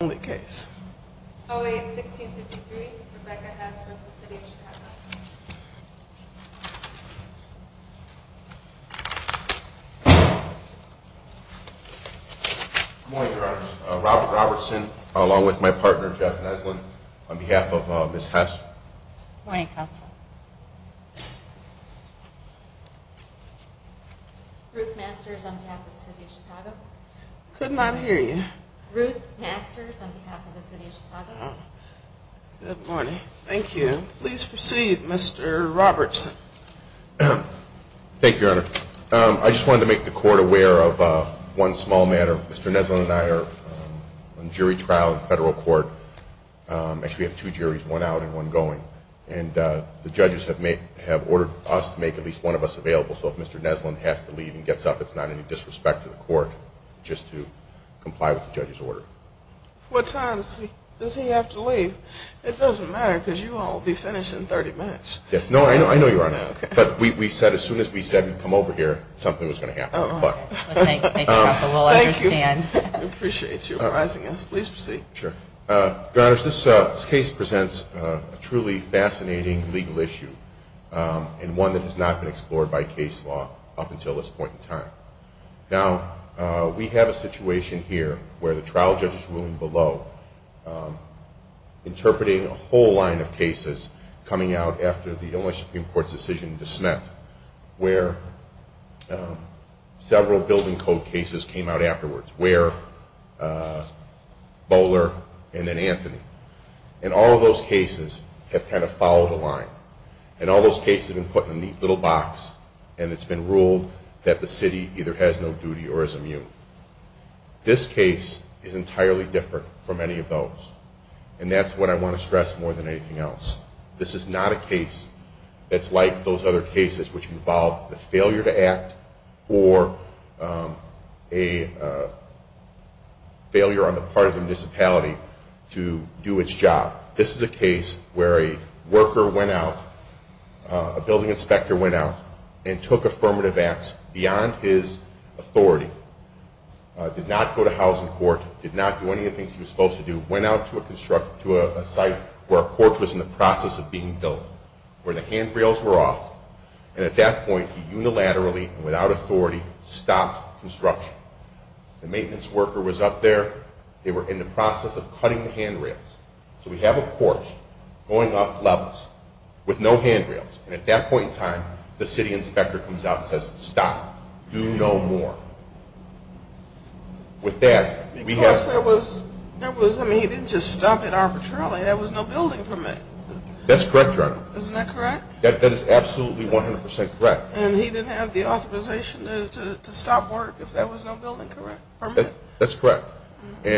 only case. Oh, wait. 16 53. Rebecca has more. Robert Robertson, along with my partner, Jeff Neslin, on behalf of Miss Hester, Ruth Masters on behalf of the city of Chicago. Could not hear you. Ruth Masters on behalf of the city of Chicago. Good morning. Thank you. Please proceed, Mr. Robertson. Thank you, Your Honor. I just wanted to make the court aware of one small matter. Mr. Neslin and I are on jury trial in federal court. Actually, we have two juries, one out and one going, and the judges have ordered us to make at least one of us available. So if Mr. Neslin has to leave and gets up, it's not any disrespect to the court just to comply with the judge's order. What time does he have to leave? It doesn't matter, because you all will be finished in 30 minutes. Yes. No, I know. I know, Your Honor. But we said as soon as we said, come over here, something was going to happen. But thank you. I appreciate you arising us. Please proceed. Sure. Your Honor, this case presents a truly fascinating legal issue and one that has not been explored by case law up until this point in time. Now, we have a situation here where the trial judge is ruling below, interpreting a whole line of cases coming out after the Illinois Supreme Court's decision to dismiss, where several building code cases came out afterwards, Ware, Bowler, and then Anthony. And all of those cases have kind of followed the line. And all those cases have been put in a neat little box, and it's been ruled that the city either has no duty or is This case is entirely different from any of those. And that's what I want to stress more than anything else. This is not a case that's like those other cases, which involved the failure to act or a failure on the part of the municipality to do its job. This is a case where a worker went out, a building inspector went out, and took affirmative acts beyond his authority, did not go to housing court, did not do any of the things he was supposed to do, went out to a site where a porch was in the process of being built, where the handrails were off. And at that point, he unilaterally, without authority, stopped construction. The maintenance worker was up there. They were in the process of cutting the handrails. So we have a porch going up levels with no handrails. And at that point in time, the city inspector comes out and says, stop. Do no more. With that, we have... Of course, there was... I mean, he didn't just stop it arbitrarily. There was no building permit. That's correct, Your Honor. Isn't that correct? That is absolutely 100% correct. And he didn't have the authorization to stop work if there was no building permit? That's correct. He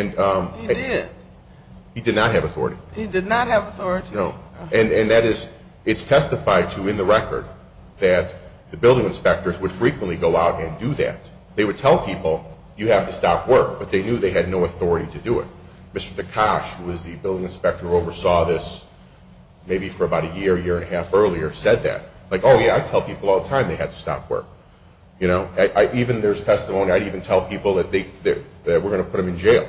did. He did not have authority. He did not have authority. No. And that is, it's testified to in the record that the building inspectors would frequently go out and do that. They would tell people, you have to stop work. But they knew they had no authority to do it. Mr. Tekash, who was the building inspector who oversaw this maybe for about a year, year and a half earlier, said that. Like, oh, yeah, I tell people all the time they have to stop work. You know? Even there's testimony, I'd even tell people that we're going to put them in jail.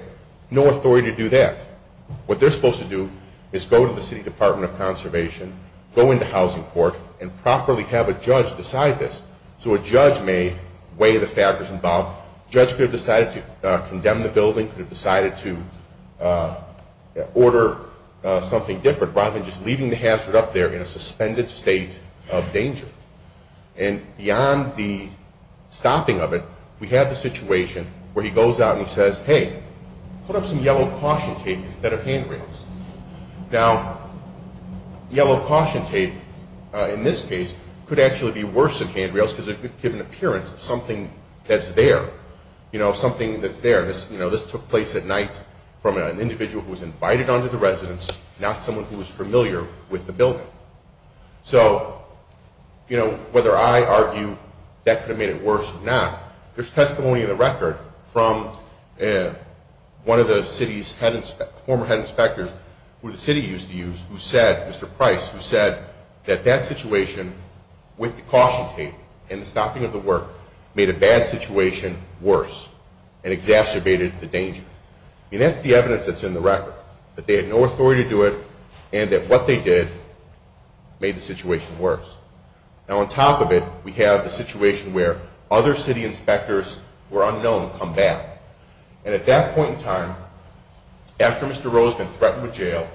No authority to do that. What they're going to do is go to the Department of Conservation, go into Housing Court, and properly have a judge decide this. So a judge may weigh the factors involved. The judge could have decided to condemn the building, could have decided to order something different, rather than just leaving the hazard up there in a suspended state of danger. And beyond the stopping of it, we have the situation where he goes out and he says, hey, put up some yellow caution tape in this case. Could actually be worse than handrails because it could give an appearance of something that's there. You know, something that's there. This took place at night from an individual who was invited onto the residence, not someone who was familiar with the building. So, you know, whether I argue that could have made it worse or not, there's testimony in the record from one of the city's former head inspectors who said, Mr. Price, who said that that situation with the caution tape and the stopping of the work made a bad situation worse and exacerbated the danger. I mean, that's the evidence that's in the record, that they had no authority to do it and that what they did made the situation worse. Now on top of it, we have the situation where other city inspectors who are unknown come back. And at that point in time, after Mr. Rose has been threatened with jail,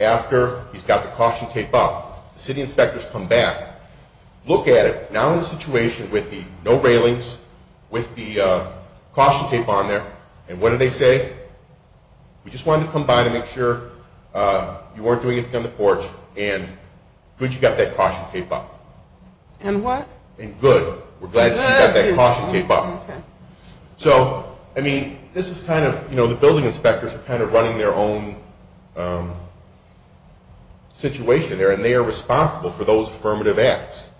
after he's got the caution tape up, the city inspectors come back, look at it, now in the situation with the no railings, with the caution tape on there, and what do they say? We just wanted to come by to make sure you weren't doing anything on the porch and good you got that caution tape up. And what? And good. We're glad you got that caution tape up. So, I mean, this is kind of, you know, the fire department has their own situation there and they are responsible for those affirmative acts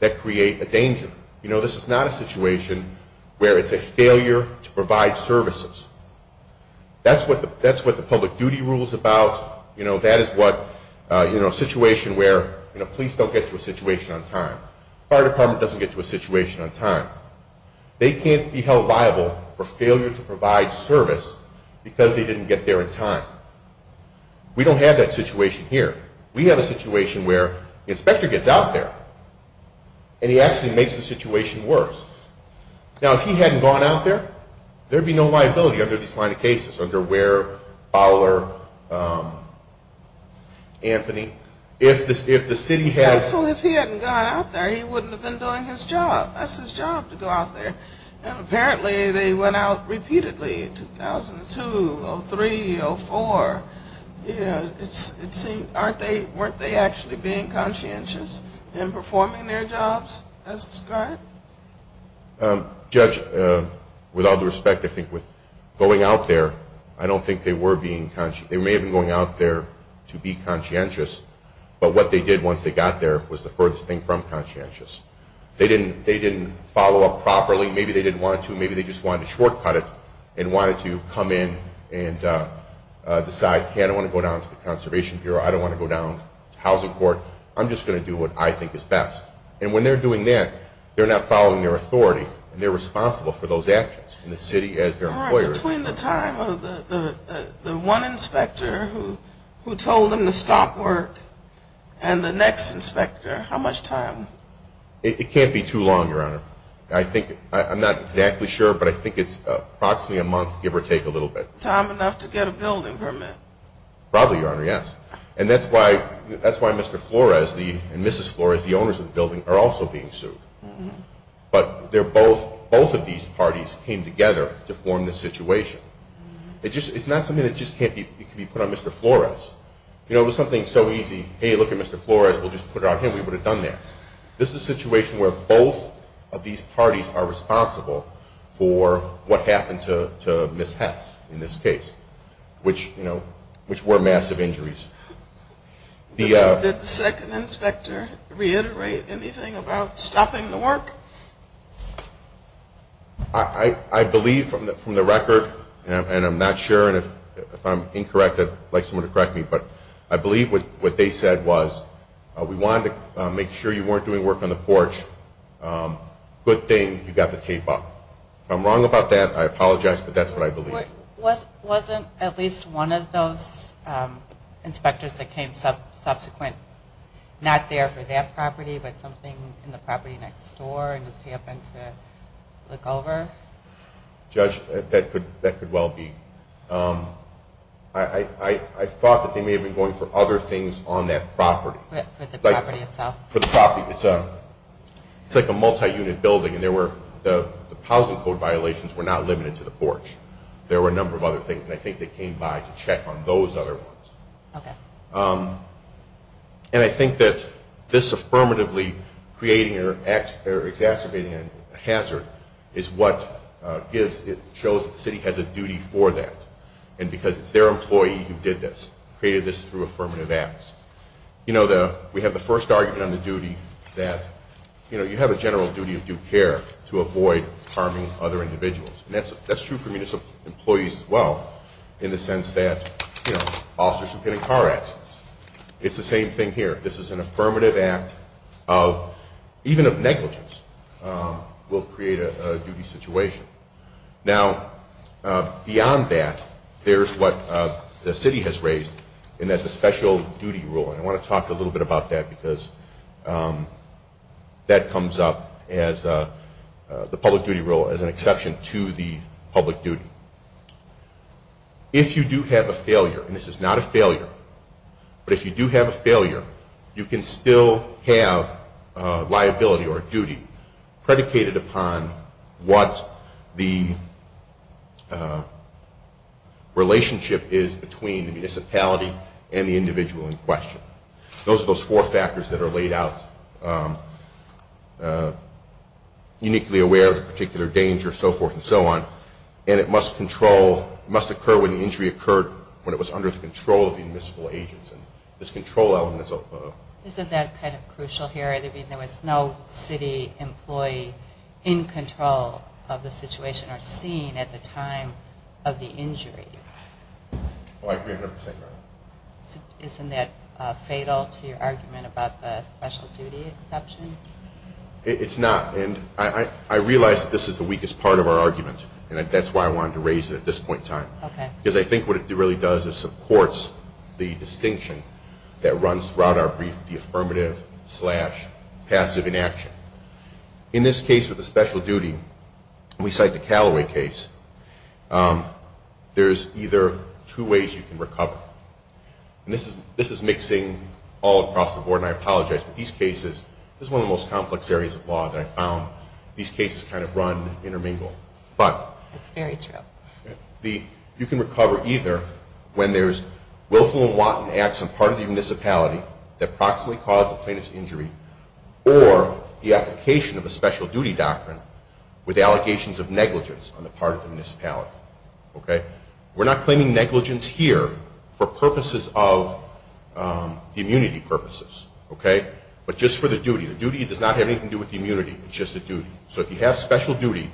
that create a danger. You know, this is not a situation where it's a failure to provide services. That's what the public duty rule is about. You know, that is what, you know, a situation where, you know, police don't get to a situation on time. Fire department doesn't get to a situation on time. They can't be held liable for failure to provide service because they didn't get there in time. We don't have that situation here. We have a situation where the inspector gets out there and he actually makes the situation worse. Now, if he hadn't gone out there, there would be no liability under this line of cases, under Ware, Fowler, Anthony. If the city had... Absolutely, if he hadn't gone out there, he wouldn't have been doing his job. That's his job, to go out there. And you know, it seemed...weren't they actually being conscientious in performing their jobs as described? Judge, with all due respect, I think with going out there, I don't think they were being...they may have been going out there to be conscientious, but what they did once they got there was the furthest thing from conscientious. They didn't follow up properly. Maybe they didn't want to. Maybe they just wanted to shortcut it and wanted to come in and decide, okay, I don't want to go down to the Conservation Bureau. I don't want to go down to Housing Court. I'm just going to do what I think is best. And when they're doing that, they're not following their authority and they're responsible for those actions. And the city, as their employer... Between the time of the one inspector who told them to stop work and the next inspector, how much time? It can't be too long, Your Honor. I think...I'm not exactly sure, but I think it's approximately a month, give or take, a little bit. Time enough to get a building permit? Probably, Your Honor, yes. And that's why Mr. Flores and Mrs. Flores, the owners of the building, are also being sued. But both of these parties came together to form this situation. It's not something that just can't be put on Mr. Flores. You know, it was something so easy, hey, look at Mr. Flores. We'll just put it on him. We would have done that. This is a situation where both of these parties are responsible for what happened to Ms. Hess in this case, which were massive injuries. Did the second inspector reiterate anything about stopping the work? I believe from the record, and I'm not sure, and if I'm incorrect, I'd like someone to correct me, but I believe what they said was, we wanted to make sure you weren't doing work on the porch. Good thing you got the I apologize, but that's what I believe. Wasn't at least one of those inspectors that came subsequent not there for that property, but something in the property next door and just happened to look over? Judge, that could well be. I thought that they may have been going for other things on that property. For the property itself? For the property. It's like a multi-unit building, and the housing code violations were not limited to the porch. There were a number of other things, and I think they came by to check on those other ones. And I think that this affirmatively creating or exacerbating a hazard is what shows that the city has a duty for that, and because it's their employee who did this, created this through affirmative acts. We have the first argument on the duty that you have a general duty of due care to avoid harming other individuals. That's true for municipal employees as well, in the sense that officers who get in car accidents. It's the same thing here. This is an affirmative act of even of negligence will create a duty situation. Now beyond that, there's what the city has raised in that the special duty rule, and I want to talk a little bit about that because that comes up as the public duty rule as an exception to the public duty. If you do have a failure, and this is not a failure, but if you do have a failure, you can still have liability or duty predicated upon what the relationship is between the municipality and the individual in question. Those are those four factors that are laid out. Uniquely aware of the particular danger, so forth and so on, and it must occur when the injury occurred when it was under the control of the municipal agents. Isn't that kind of crucial here? There was no city employee in control of the situation or seen at the time of the injury? I agree 100%. Isn't that fatal to your argument about the special duty exception? It's not, and I realize that this is the weakest part of our argument, and that's why I wanted to raise it at this point in time, because I think what it really does is supports the distinction that runs throughout our brief, the affirmative slash passive inaction. In this case with the special duty, we cite the Callaway case, there's either two ways you can recover, and this is mixing all across the board, and I apologize, but these cases, this is one of the most complex areas of law that I found, these cases kind of run intermingle, but you can recover either when there's willful and wanton acts on part of the municipality that proximately caused the plaintiff's injury, or the application of the special duty doctrine with allegations of negligence on the part of the municipality. We're not claiming negligence here for purposes of the immunity purposes, but just for the duty. The duty does not have anything to do with the immunity, it's just a duty. So if you have special duty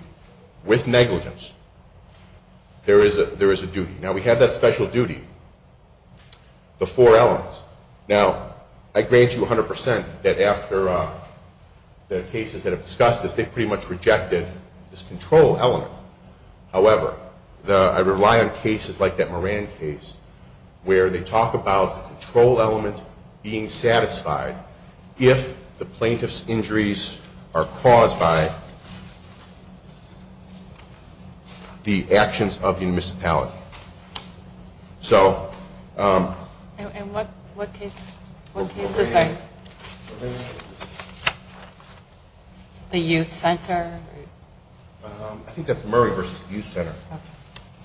with negligence, there is a duty. Now we have that special duty, the four elements. Now I grant you 100% that after the cases that have discussed this, they pretty much rejected this control element. However, I rely on cases like that Moran case, where they talk about the control element being satisfied if the plaintiff's injuries are caused by the actions of the municipality. So... And what case is that? The youth center? I think that's Murray v. Youth Center. Let's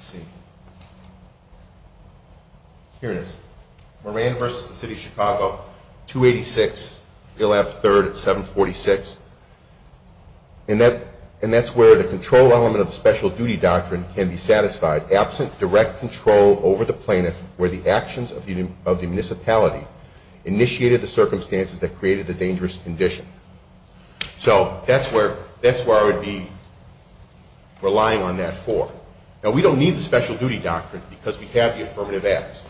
see. Here it is. Moran v. The City of Chicago, 286 Gillap 3rd at 746. And that's where the control element of the special duty doctrine can be satisfied absent direct control over the plaintiff where the actions of the municipality initiated the circumstances that created the dangerous condition. So that's where I would be relying on that four. Now we don't need the special duty doctrine because we have the affirmative acts.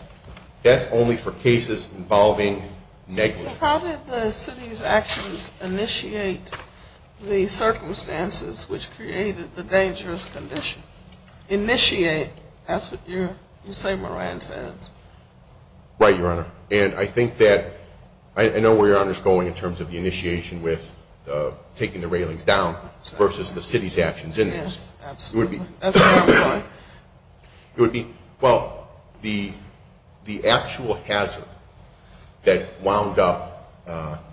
That's only for cases involving negligence. How did the city's actions initiate the circumstances which created the dangerous condition? Initiate, that's what you say Moran says. Right, Your Honor. And I think that I know where Your Honor is going in terms of the initiation with taking the railings down versus the city's actions in this. Yes, absolutely. It would be, well, the actual hazard that wound up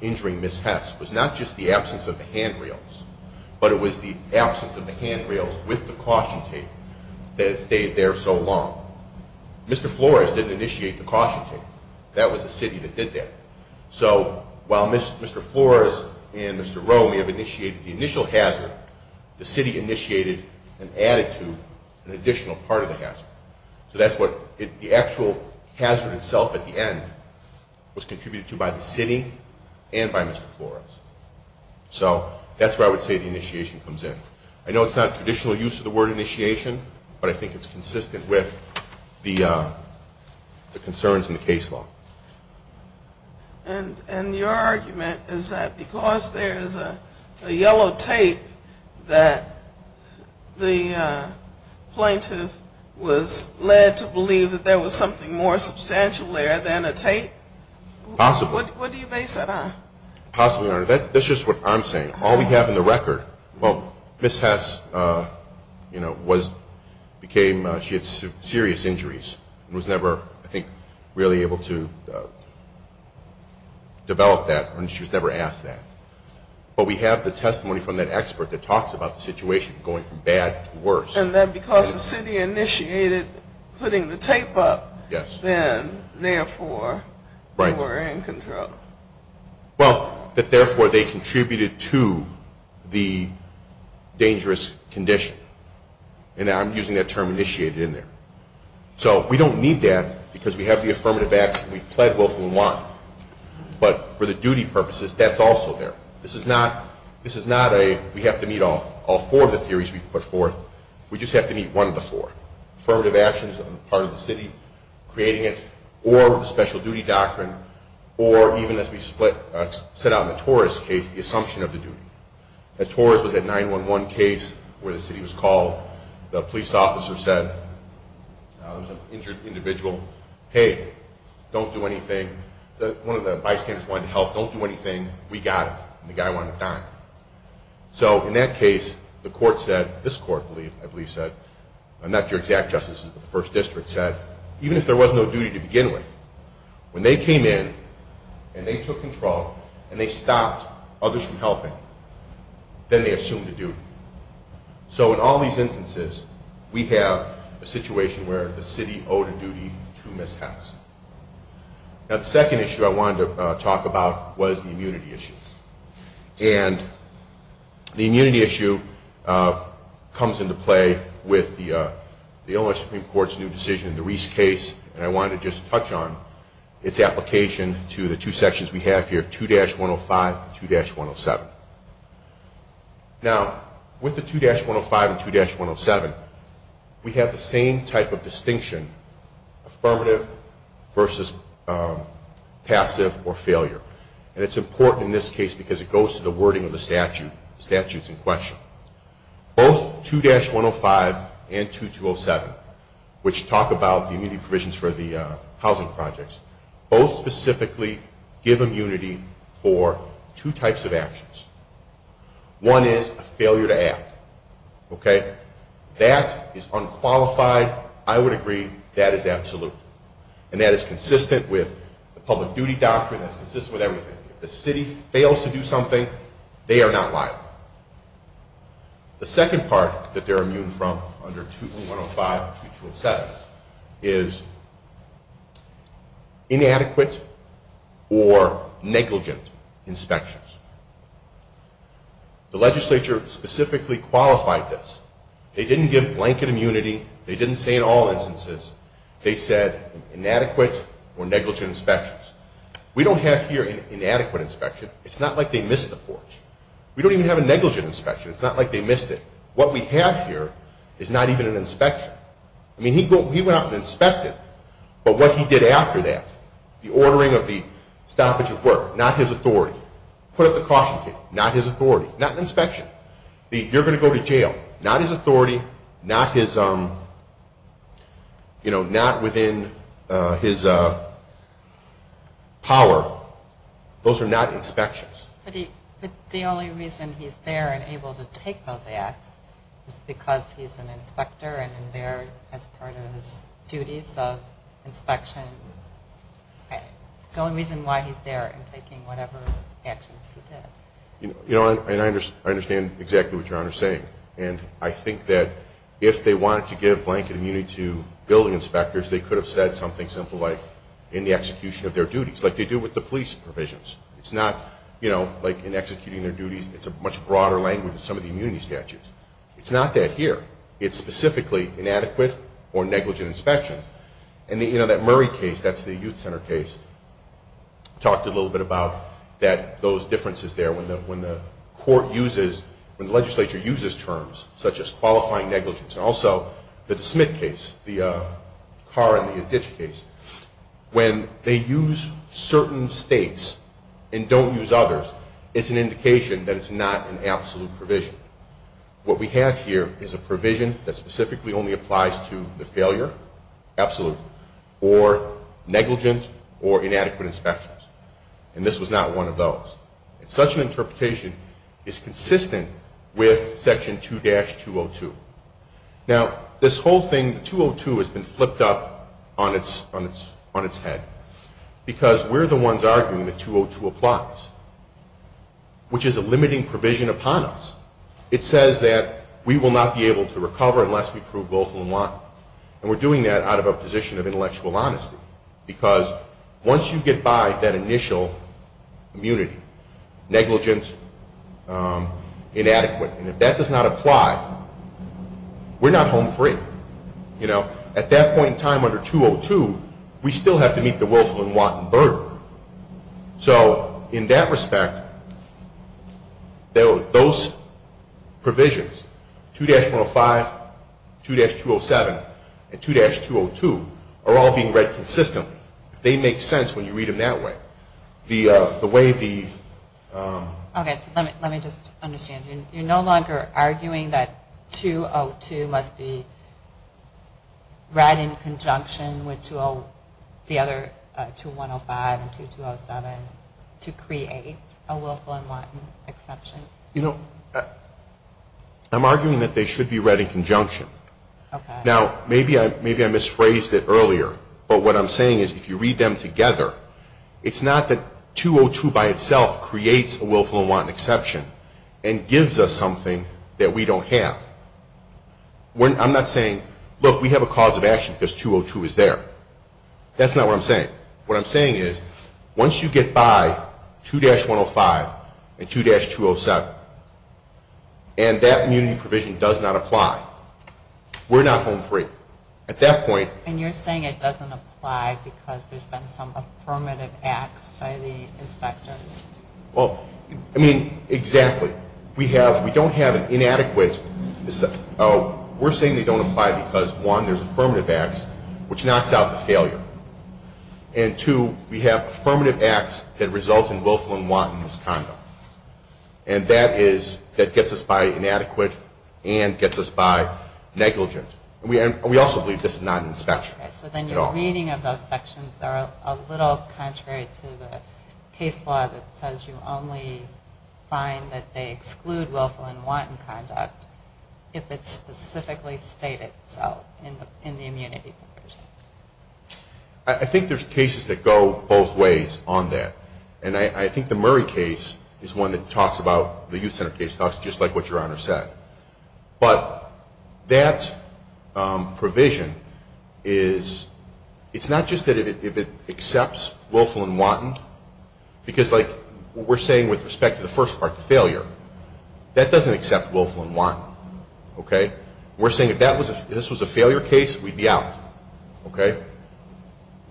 injuring Ms. Hess was not just the absence of the handrails, but it was the absence of the handrails with the caution tape that stayed there so long. Mr. Flores didn't initiate the caution tape. That was the city that did that. So while Mr. Flores and Mr. Rowe may have initiated the initial hazard, the city initiated and added to an additional part of the hazard. So that's what the actual hazard itself at the end was contributed to by the city and by Mr. Flores. So that's where I would say the initiation comes in. I know it's not traditional use of the word initiation, but I think it's consistent with the concerns in the case law. And your argument is that because there is a the plaintiff was led to believe that there was something more substantial there than a tape? Possibly. What do you base that on? Possibly, Your Honor. That's just what I'm saying. All we have in the record, well, Ms. Hess, you know, was, became, she had serious injuries and was never, I think, really able to develop that and she was never asked that. But we have the testimony from that expert that talks about the situation going from bad to worse. And then because the city initiated putting the tape up, then, therefore, you were in control. Well, that therefore they contributed to the dangerous condition. And I'm using that term initiated in there. So we don't need that because we have the affirmative acts and we've pled both in one. But for the duty purposes, that's also there. This is not, this is not a point, we have to meet all four of the theories we've put forth. We just have to meet one of the four. Affirmative actions on the part of the city, creating it, or the special duty doctrine, or even as we split, set out in the Torres case, the assumption of the duty. At Torres was that 911 case where the city was called. The police officer said, there was an injured individual. Hey, don't do anything. One of the bystanders wanted to help. Don't do anything. We got it. And the guy wanted to die. So in that case, the court said, this court, I believe, said, not your exact justices, but the first district said, even if there was no duty to begin with, when they came in and they took control and they stopped others from helping, then they assumed a duty. So in all these instances, we have a situation where the city owed a duty to Ms. Hess. Now, the second issue I wanted to talk about was the immunity issue. And the immunity issue comes into play with the Illinois Supreme Court's new decision, the Reese case, and I wanted to just touch on its application to the two sections we have here, 2-105 and 2-107. Now, with the 2-105 and 2-107, we have the same type of distinction, affirmative versus passive or failure. And it's important in this case because it goes to the wording of the statute. The statute's in question. Both 2-105 and 2-207, which talk about the immunity provisions for the housing projects, both specifically give immunity for two types of actions. One is a failure to act, okay? That is unqualified. I would agree that is absolute. And that is consistent with the public duty doctrine. That's consistent with everything. If the city fails to do something, they are not liable. The second part that they're immune from under 2-105 and 2-207 is inadequate or negligent inspections. The legislature specifically qualified this. They didn't give blanket immunity. They didn't say in all instances, they said inadequate or negligent inspections. We don't have here inadequate inspection. It's not like they missed the porch. We don't even have a negligent inspection. It's not like they missed it. What we have here is not even an inspection. I mean, he went out and inspected. But what he did after that, the ordering of the stoppage of work, not his authority. Put up the caution tape, not his authority. Not an inspection. You're going to go to jail. Not his authority. Not his, you know, not within his power. Those are not inspections. But the only reason he's there and able to take those acts is because he's an inspector and in there as part of his duties of inspection. It's the only reason why he's there and taking whatever actions he did. You know, and I understand exactly what And I think that if they wanted to give blanket immunity to building inspectors, they could have said something simple like in the execution of their duties, like they do with the police provisions. It's not, you know, like in executing their duties, it's a much broader language than some of the immunity statutes. It's not that here. It's specifically inadequate or negligent inspections. And, you know, that Murray case, that's the Youth Center case, talked a little bit about that, those differences there when the court uses, when the such as qualifying negligence. And also the DeSmit case, the Carr and the Adich case, when they use certain states and don't use others, it's an indication that it's not an absolute provision. What we have here is a provision that specifically only applies to the failure, absolute, or negligent or inadequate inspections. And this was not one of those. And such an interpretation is consistent with Section 2-202. Now, this whole thing, 202 has been flipped up on its head because we're the ones arguing that 202 applies, which is a limiting provision upon us. It says that we will not be able to recover unless we prove both and one. And we're doing that out of a position of intellectual honesty because once you get by that initial immunity, negligence, inadequate, and if that does not apply, we're not home free. You know, at that point in time under 202, we still have to meet the Wilson and Watten burden. So in that respect, those provisions, 2-105, 2-207, and 2-202 are all being read consistently. They make sense when you read them that way. The way the... Okay, so let me just understand. You're no longer arguing that 202 must be read in conjunction with the other 2-105 and 2-207 to create a Wilson and Watten exception? You know, I'm arguing that they should be read in conjunction. Now, maybe I misphrased it earlier, but what I'm saying is if you read them together, it's not that 202 by itself creates a Wilson and Watten exception and gives us something that we don't have. I'm not saying, look, we have a cause of action because 202 is there. That's not what I'm saying. What I'm saying is once you get by 2-105 and 2-207 and that immunity provision does not apply, we're not home free. At that point... And you're saying it doesn't apply because there's been some affirmative acts by the inspectors? Well, I mean, exactly. We don't have an inadequate... We're saying they don't apply because, one, there's affirmative acts, which knocks out the failure. And two, we have affirmative acts that result in Wilson and Watten misconduct. And that gets us by inadequate and gets us by negligent. And we also believe this is not an inspection at all. So then your reading of those sections are a little contrary to the case law that says you only find that they exclude Wilson and Watten conduct if it's specifically stated so in the immunity provision. I think there's cases that go both ways on that. And I think the Murray case is one that talks about, the Youth Center case talks just like what Your Honor said. But that provision is... It's not just that if it accepts Wilson and Watten, because like we're saying with respect to the first part, the failure, that doesn't accept Wilson and Watten. We're saying if this was a failure case, we'd be out.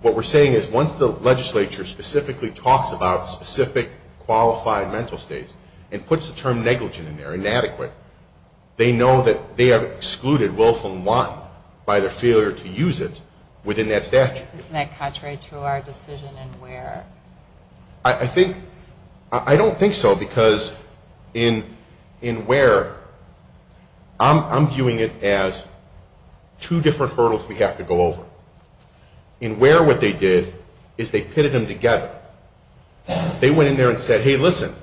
What we're saying is once the legislature specifically talks about specific qualified mental states and puts the term negligent in there, inadequate, they know that they have excluded Wilson and Watten by their failure to use it within that statute. Isn't that contrary to our decision in Ware? I think... I don't think so because in Ware, I'm viewing it as two different hurdles we have to go over. In Ware, what they did is they pitted them together. They went in there and said, hey, listen,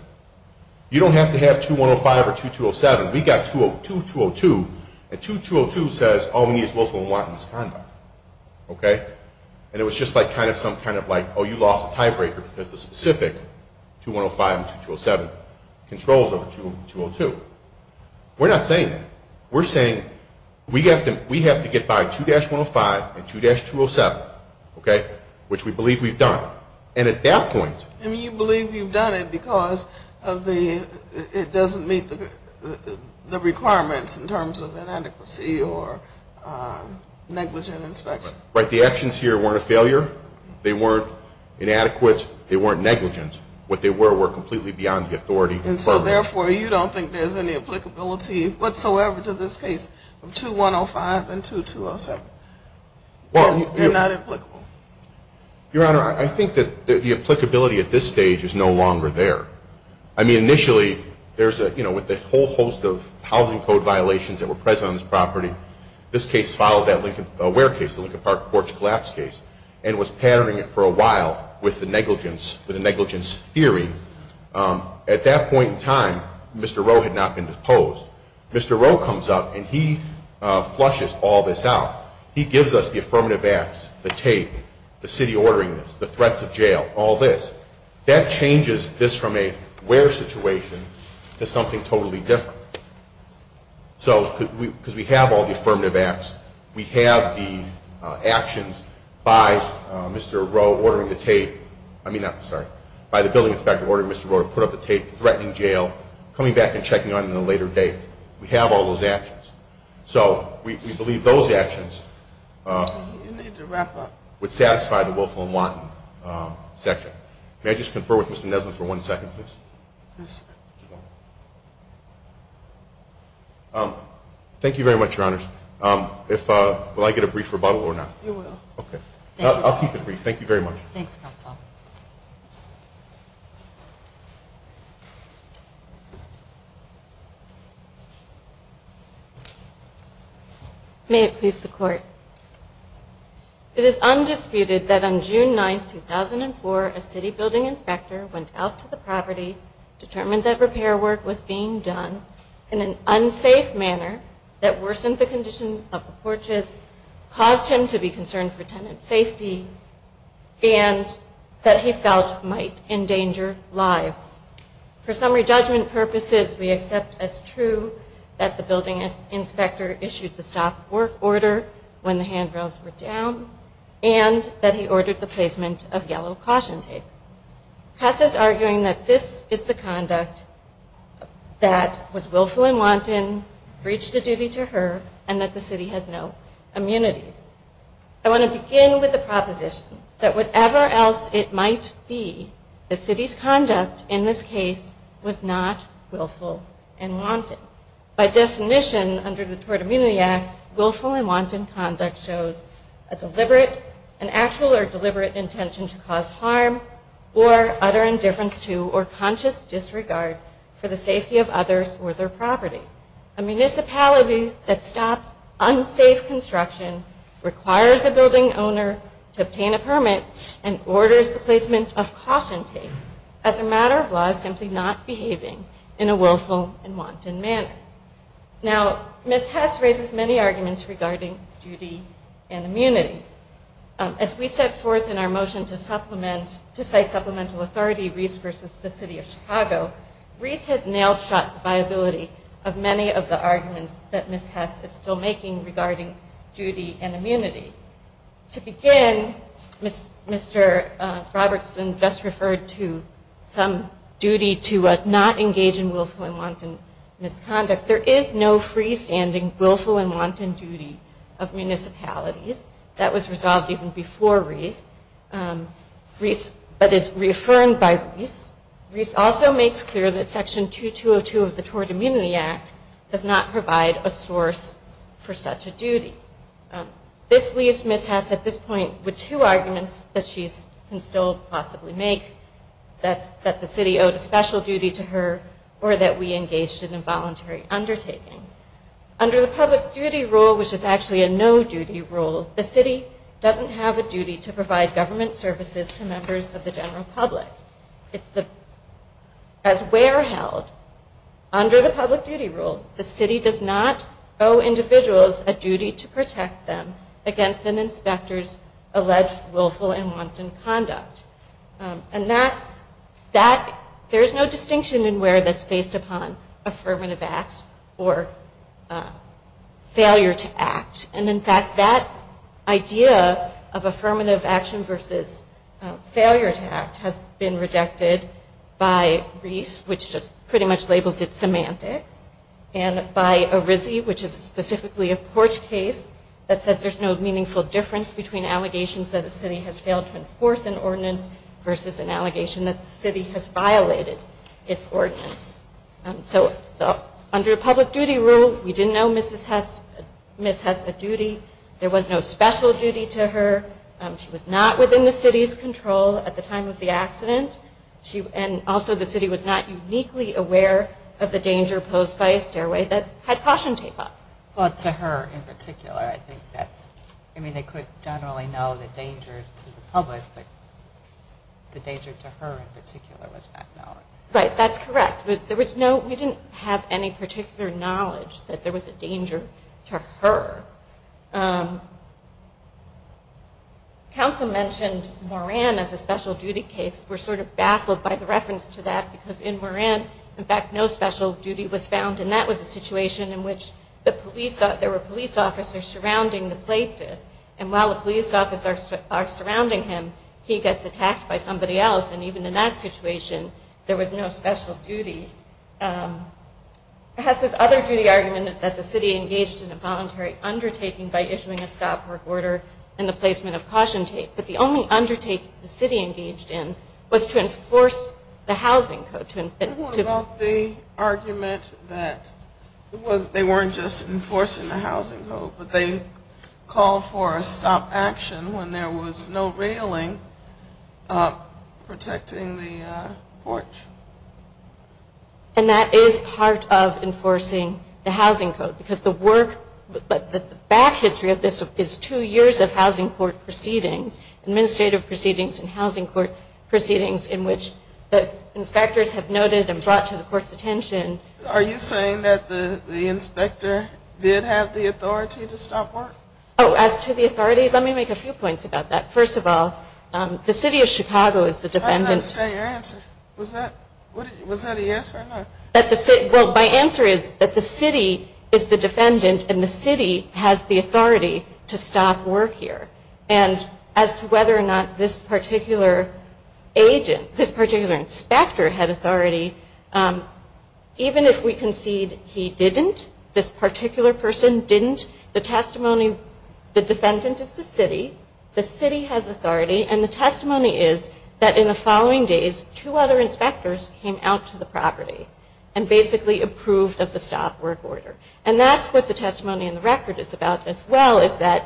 you don't have to have 2105 or 2207. We got 2202. And 2202 says all we need is Wilson and Watten's conduct. Okay? And it was just like kind of some kind of like, oh, you lost a tiebreaker because the specific 2105 and 2207 controls over 2202. We're not saying that. We're saying we have to get by 2-105 and 2-207, okay, which we believe we've done. And at that point... And you believe you've done it because of the... it doesn't meet the requirements in terms of inadequacy or negligent inspection. Right. The actions here weren't a failure. They weren't inadequate. They weren't negligent. What they were, were completely beyond the authority. And so therefore, you don't think there's any applicability whatsoever to this case of 2105 and 2207? Well... They're not applicable. Your Honor, I think that the applicability at this stage is no longer there. I mean, initially, there's a, you know, with the whole host of housing code violations that were present on this property, this case followed that Lincoln... Ware case, the Lincoln Park porch collapse case, and was patterning it for a while with the negligence, with the negligence theory. At that point in time, Mr. Rowe had not been deposed. Mr. Rowe comes up and he flushes all this out. He gives us the affirmative acts, the tape, the city ordering this, the threats of this from a Ware situation to something totally different. So, because we have all the affirmative acts, we have the actions by Mr. Rowe ordering the tape, I mean, sorry, by the building inspector ordering Mr. Rowe to put up the tape threatening jail, coming back and checking on it at a later date. We have all those actions. So we believe those actions would satisfy the Willful and Wanton section. May I just confer with Mr. Neslin for one second, please? Thank you very much, your honors. Will I get a brief rebuttal or not? You will. Okay. I'll keep it brief. Thank you very much. Thanks, counsel. May it please the court. It is undisputed that on June 9, 2004, a city building inspector went out to the property, determined that repair work was being done in an unsafe manner that worsened the condition of the porches, caused him to be concerned for tenant safety, and that he felt might endanger lives. For summary judgment purposes, we accept as true that the building inspector issued the stop work order when the handrails were down and that he ordered the placement of yellow caution tape. Passes arguing that this is the conduct that was willful and wanton, breached a duty to her, and that the city has no immunities. I want to begin with a proposition that whatever else it might be, the city's conduct in this case was not willful and wanton. By definition, under the Tort Immunity Act, willful and wanton conduct shows a deliberate intention to cause harm or utter indifference to or conscious disregard for the safety of others or their property. A municipality that stops unsafe construction requires a building owner to obtain a permit and orders the placement of caution tape as a matter of law simply not behaving in a willful and wanton manner. Now, Ms. Hess raises many arguments regarding duty and immunity. As we set forth in our motion to cite supplemental authority, Reese versus the City of Chicago, Reese has nailed shut the viability of many of the arguments that Ms. Hess is still making regarding duty and immunity. To begin, Mr. Robertson just referred to some duty to not engage in willful and wanton misconduct. There is no freestanding willful and wanton duty of municipalities. That was resolved even before Reese, but is reaffirmed by Reese. Reese also makes clear that Section 2202 of the Tort Immunity Act does not provide a source for such a duty. This leaves Ms. Hess at this point with two arguments that she can still possibly make, that the city owed a special duty to her or that we engaged in involuntary undertaking. Under the public duty rule, which is actually a no-duty rule, the city doesn't have a duty to provide government services to members of the general public. As where held, under the public duty rule, the city does not owe individuals a duty to protect them against an inspector's alleged willful and wanton conduct. There is no distinction in where that is based upon affirmative acts or failure to act. And in fact, that idea of affirmative action versus failure to act has been rejected by Reese, which just pretty much labels it semantics, and by Arizzi, which is specifically a porch case that says there's no meaningful difference between allegations that a city has failed to enforce an ordinance versus an allegation that the city has violated its Under the public duty rule, we didn't know Ms. Hess a duty. There was no special duty to her. She was not within the city's control at the time of the accident. And also the city was not uniquely aware of the danger posed by a stairway that had caution tape up. Well, to her in particular, I think that's, I mean, they could generally know the danger to the public, but the danger to her in particular was not known. Right, that's correct. We didn't have any particular knowledge that there was a danger to her. Council mentioned Moran as a special duty case. We're sort of baffled by the reference to that because in Moran, in fact, no special duty was found. And that was a situation in which the police, there were police officers surrounding the plaintiff. And while the police officers are surrounding him, he gets attacked by somebody else. And even in that situation, there was no special duty case. It has this other duty argument is that the city engaged in a voluntary undertaking by issuing a stop work order and the placement of caution tape. But the only undertaking the city engaged in was to enforce the housing code. Tell me more about the argument that they weren't just enforcing the housing code, but they called for a stop action when there was no railing protecting the porch. And that is part of enforcing the housing code. Because the work, the back history of this is two years of housing court proceedings, administrative proceedings and housing court proceedings in which the inspectors have noted and brought to the court's attention. Are you saying that the inspector did have the authority to stop work? Oh, as to the authority, let me make a few points about that. First of all, the city of Chicago is the defendant. I don't understand your answer. Was that a yes or no? Well, my answer is that the city is the defendant and the city has the authority to stop work here. And as to whether or not this particular agent, this particular inspector had authority, even if we concede he didn't, this particular person didn't, the testimony, the defendant is the city, the city has authority, and the testimony is that in the following days, two other inspectors came out to the property and basically approved of the stop work order. And that's what the testimony in the record is about as well, is that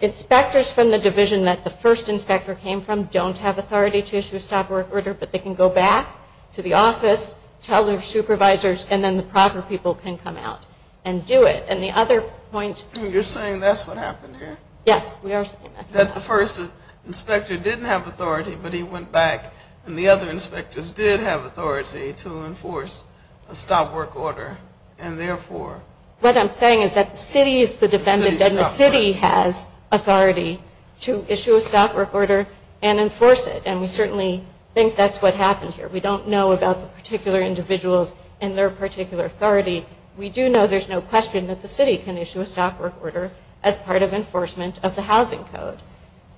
inspectors from the division that the first inspector came from don't have authority to issue a stop work order, but they can go back to the office, tell their supervisors, and then the proper people can come out and do it. And the other point You're saying that's what happened here? Yes, we are saying that. That the first inspector didn't have authority, but he went back and the other inspectors did have authority to enforce a stop work order, and therefore What I'm saying is that the city is the defendant and the city has authority to issue a stop work order and enforce it. And we certainly think that's what happened here. We don't know about the particular individuals and their particular authority. We do know there's no question that the city can issue a stop work order as part of enforcement of the housing code.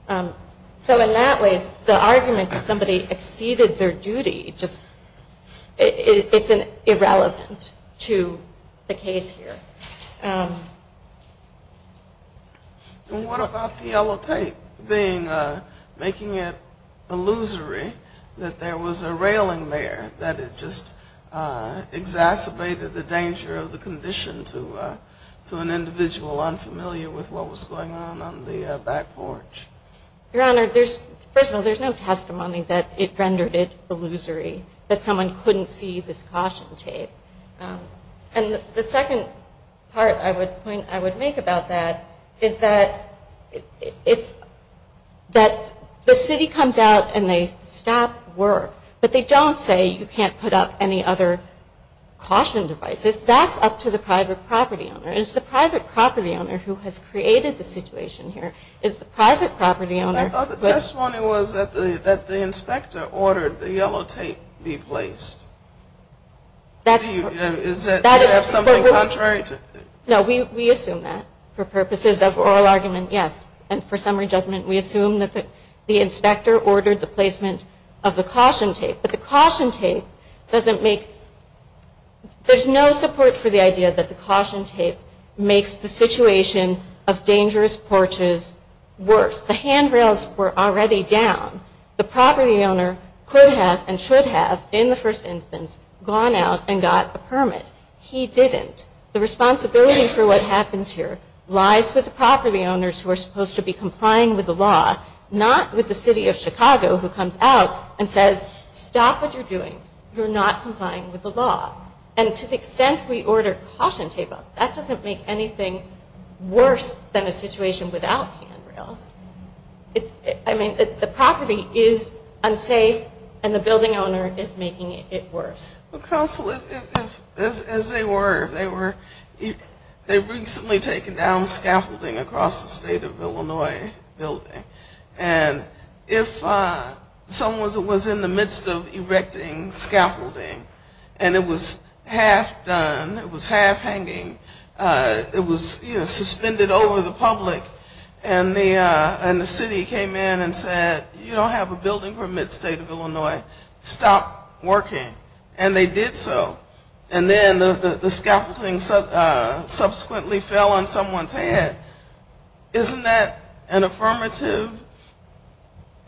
So in that way, the argument that somebody exceeded their duty just, it's irrelevant to the case here. And what about the yellow tape being, making it illusory that there was a railing there that it just exacerbated the danger of the condition to an individual unfamiliar with what was going on on the back porch? Your Honor, there's, first of all, there's no testimony that it rendered it illusory, that someone couldn't see this caution tape. And the second part I would point, I would make about that is that it's, that the city comes out and they stop work, but they don't say you can't put up any other caution devices. That's up to the private property owner. It's the private property owner who has created the situation here. It's the private property owner. I thought the testimony was that the, that the inspector ordered the yellow tape be placed. That's, is that something contrary to? No, we assume that for purposes of oral argument, yes. And for summary judgment, we assume that the inspector ordered the placement of the caution tape, but the caution tape doesn't make, there's no support for the idea that the caution tape makes the situation of dangerous porches worse. The handrails were already down. The property owner could have and should have in the first instance gone out and got a permit. He didn't. The responsibility for what happens here lies with the property owners who are supposed to be complying with the law, not with the city of Chicago who comes out and says stop what you're doing. You're not complying with the law. And to the extent we order caution tape up, that doesn't make anything worse than a situation without handrails. It's, I mean, the property is unsafe and the building owner is making it worse. Well, counsel, if, as they were, if they were, they recently taken down scaffolding across the state of Illinois building. And if someone was in the midst of erecting scaffolding and it was half done, it was half hanging, it was, you know, suspended over the public and the, and the city came in and said, you don't have a building from the state of Illinois. Stop working. And they did so. And then the scaffolding subsequently fell on someone's head. Isn't that an affirmative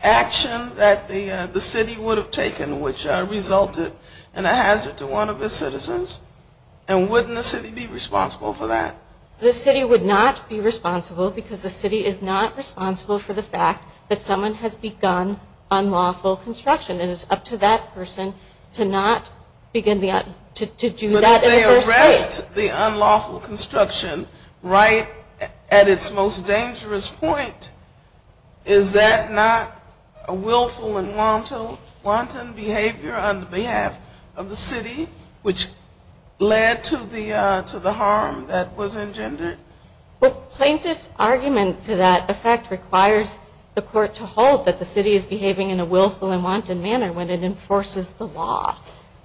action that the city would have taken which resulted in a hazard to one of its citizens? And wouldn't the city be responsible for that? The city would not be responsible because the city is not responsible for the fact that someone has begun unlawful construction. It is up to that person to not begin to do that in the first place. But if they addressed the unlawful construction right at its most dangerous point, is that not a willful and wanton behavior on behalf of the city which led to the, to the harm that was engendered? Well, plaintiff's argument to that effect requires the court to hold that the city is behaving in a willful and wanton manner when it enforces the law.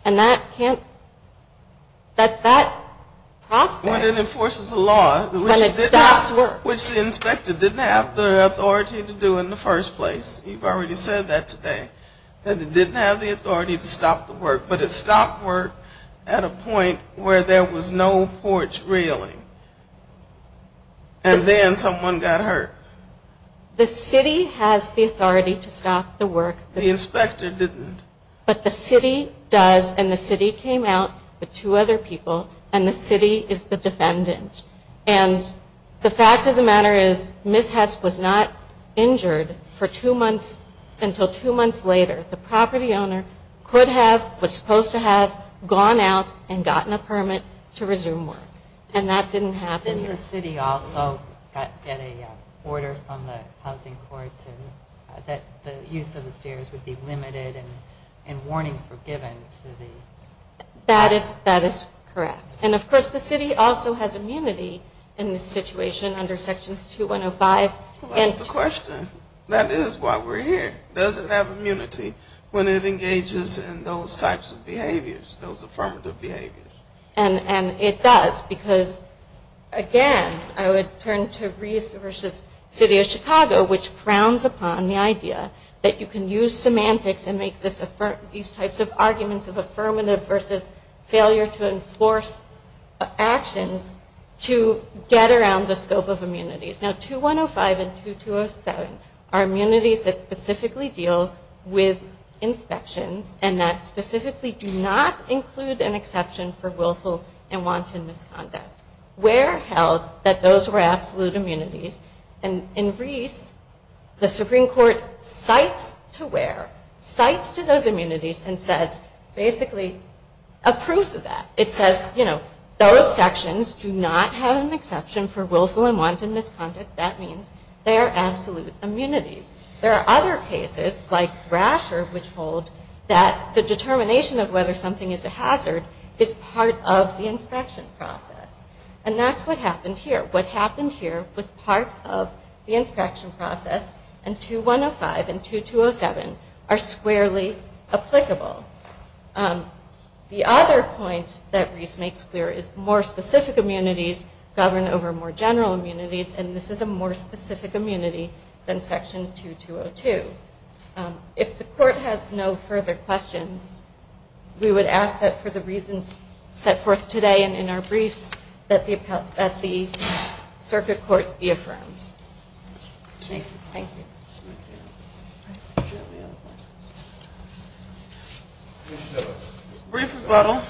And that can't, that, that prospect. When it enforces the law. When it stops work. Which the inspector didn't have the authority to do in the first place. You've already said that today. That it didn't have the authority to stop the work. But it stopped work at a point where there was no porch railing. And then someone got hurt. The city has the authority to stop the work. The inspector didn't. But the city does. And the city came out with two other people. And the city is the defendant. And the fact of the matter is, Miss Hess was not injured for two months until two months later. The property owner could have, was supposed to have gone out and gotten a permit to resume work. And that didn't happen. Didn't the city also get a order from the housing court that the use of the stairs would be limited and warnings were given to the... That is correct. And of course the city also has immunity in this situation under Sections 2105. That's the question. That is why we're here. Does it have immunity when it engages in those types of behaviors, those affirmative behaviors? And it does. Because again, I would turn to Reese v. City of Chicago, which frowns upon the idea that you can use semantics and make these types of arguments of affirmative v. failure to enforce actions to get around the scope of immunities. Now 2105 and 2207 are immunities that specifically deal with inspections and that specifically do not include an exception for willful and wanton misconduct. Where held that those were absolute immunities. And in Reese, the Supreme Court cites to where, cites to those immunities and says, basically approves of that. It says, you know, those sections do not have an exception for willful and wanton misconduct. That means they are absolute immunities. There are other cases like Rasher, which hold that the determination of whether something is a hazard is part of the inspection process. And that's what happened here. What happened here was part of the inspection process and 2105 and 2207 are squarely applicable. The other point that Reese makes clear is more specific immunities govern over more general immunities and this is a more specific immunity than section 2202. If the court has no further questions, we would ask that for the reasons set forth today and in our briefs, that the circuit court be affirmed. Brief rebuttal.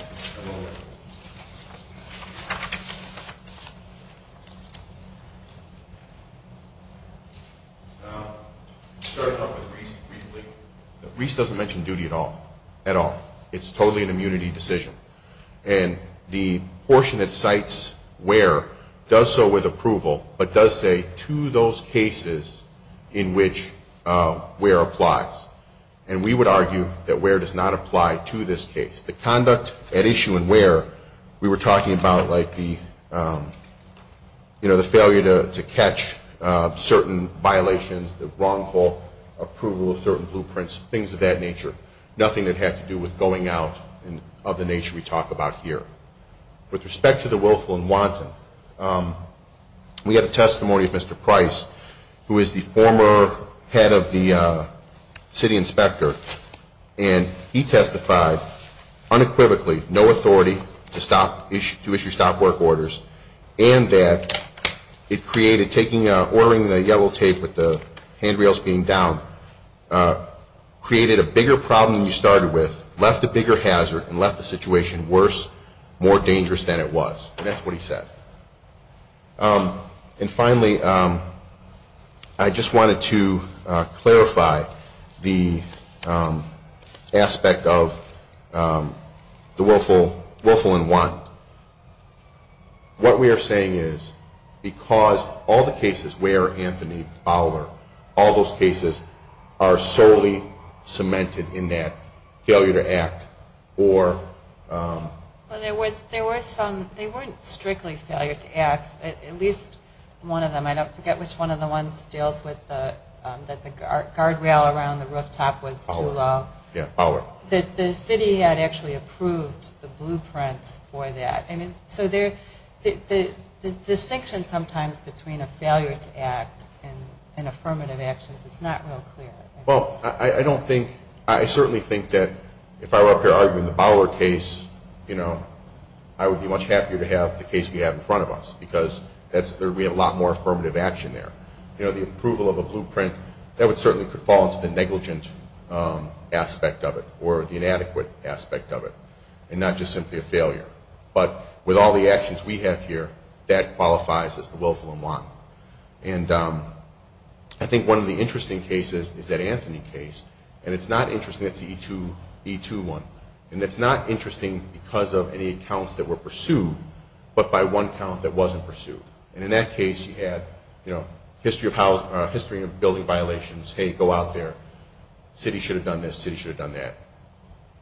Reese doesn't mention duty at all. At all. It's totally an immunity decision and the portion that cites where does so with approval but does say to those cases in which where applies. And we would argue that where does not apply to this case. The conduct at issue and where we were talking about like the you know the failure to catch certain violations, the wrongful approval of certain blueprints, things of that nature. Nothing that had to do with going out and of the nature we talk about here. With respect to the willful and wanton, we have a testimony of Mr. Price who is the former head of the city inspector and he testified unequivocally no authority to stop issue to issue stop work orders and that it created taking a ordering the yellow tape with the handrails being down created a bigger problem you started with left a bigger hazard and left the situation worse more dangerous than it was. That's what he said. And finally, I just wanted to clarify the aspect of the willful willful and wanton. What we are saying is because all the cases where Anthony Fowler, all those cases are solely cemented in that failure to act or there was there were some they weren't strictly failure to act at least one of them. I don't forget which one of the ones deals with that the guardrail around the rooftop was too low. Yeah, that the city had actually approved the blueprints for that. I mean, so they're the distinction sometimes between a failure to act and an affirmative action. It's not real clear. Well, I don't think I certainly think that if I were up here arguing the Fowler case, you know, I would be much happier to have the case we have in front of us because that's there we have a lot more affirmative action there. You know, the approval of a blueprint that would certainly could fall into the negligent aspect of it or the inadequate aspect of it and not just simply a failure. But with all the actions we have here that qualifies as the willful and want. And I think one of the interesting cases is that Anthony case and it's not interesting it's the E2, E2 one and it's not interesting because of any accounts that were pursued by the city. But by one account that wasn't pursued. And in that case you had history of building violations. Hey, go out there. The city should have done this. The city should have done that.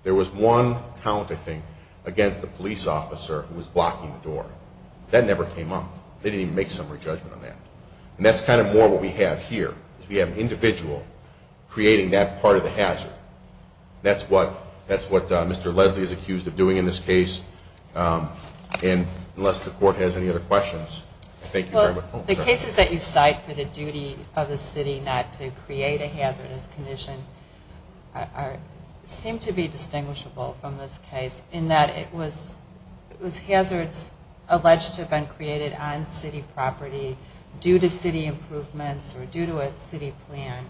There was one account I think against the police officer who was blocking the door. That never came up. They didn't even make some re-judgment on that. And that's kind of more what we have here. We have an individual creating that part of the hazard. And that's what Mr. Leslie is accused of doing in this case. And let me know if the court has any other questions. Thank you very much. Well, the cases that you cite for the duty of the city not to create a hazardous condition seem to be distinguishable from this case in that it was hazards alleged to a city plan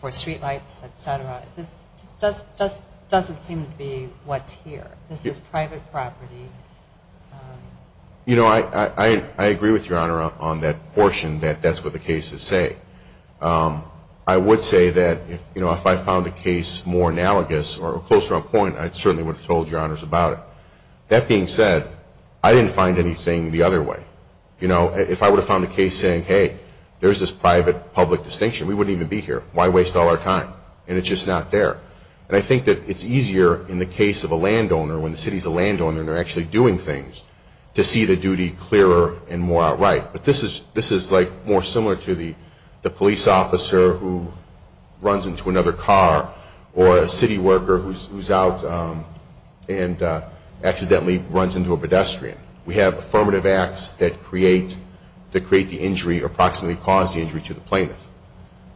for street lights, et cetera. This doesn't seem to be what's here. This is private property. And that's what the city has to do. And that's what the city has to do. And that's what the city has to do. You know, I agree with your honor on that portion that that's what the case is saying. I would say that if, you know, if I found the case more analogous or closer on point, I certainly would have told your honors about it. That being said, I didn't find anything the other way. You know, if I would have found the case saying, hey, there's this private public distinction, we wouldn't even be here. Why waste all our time? And it's just not there. And I think that it's easier in the case of a land owner, when the city's a land owner and they're actually doing things, to see the duty clearer and more outright. But this is like more similar to the police officer who runs into another car or a city worker who's out and accidentally runs into a create the injury or approximately cause the injury to the plaintiff.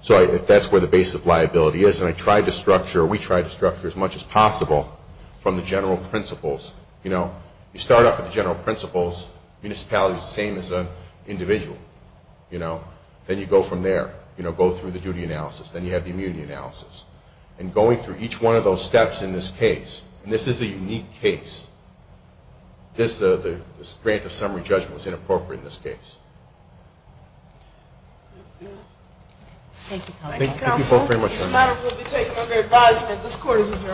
So that's where the basis of liability is. And I tried to structure, we tried to structure as much as possible to make sure that we were able to do what we were able to do. the general principles. You know, you start off with the general principles. Municipality is the same as an individual. You know? Then you go from there. You know, go through the duty analysis. Then you have the immunity analysis. And going through each one of those steps in this case, and this is a unique case, this grant of summary judgment is inappropriate in this case. Thank you. Thank you counsel. Thank you both very much. This matter will be taken under advisement. This court is adjourned.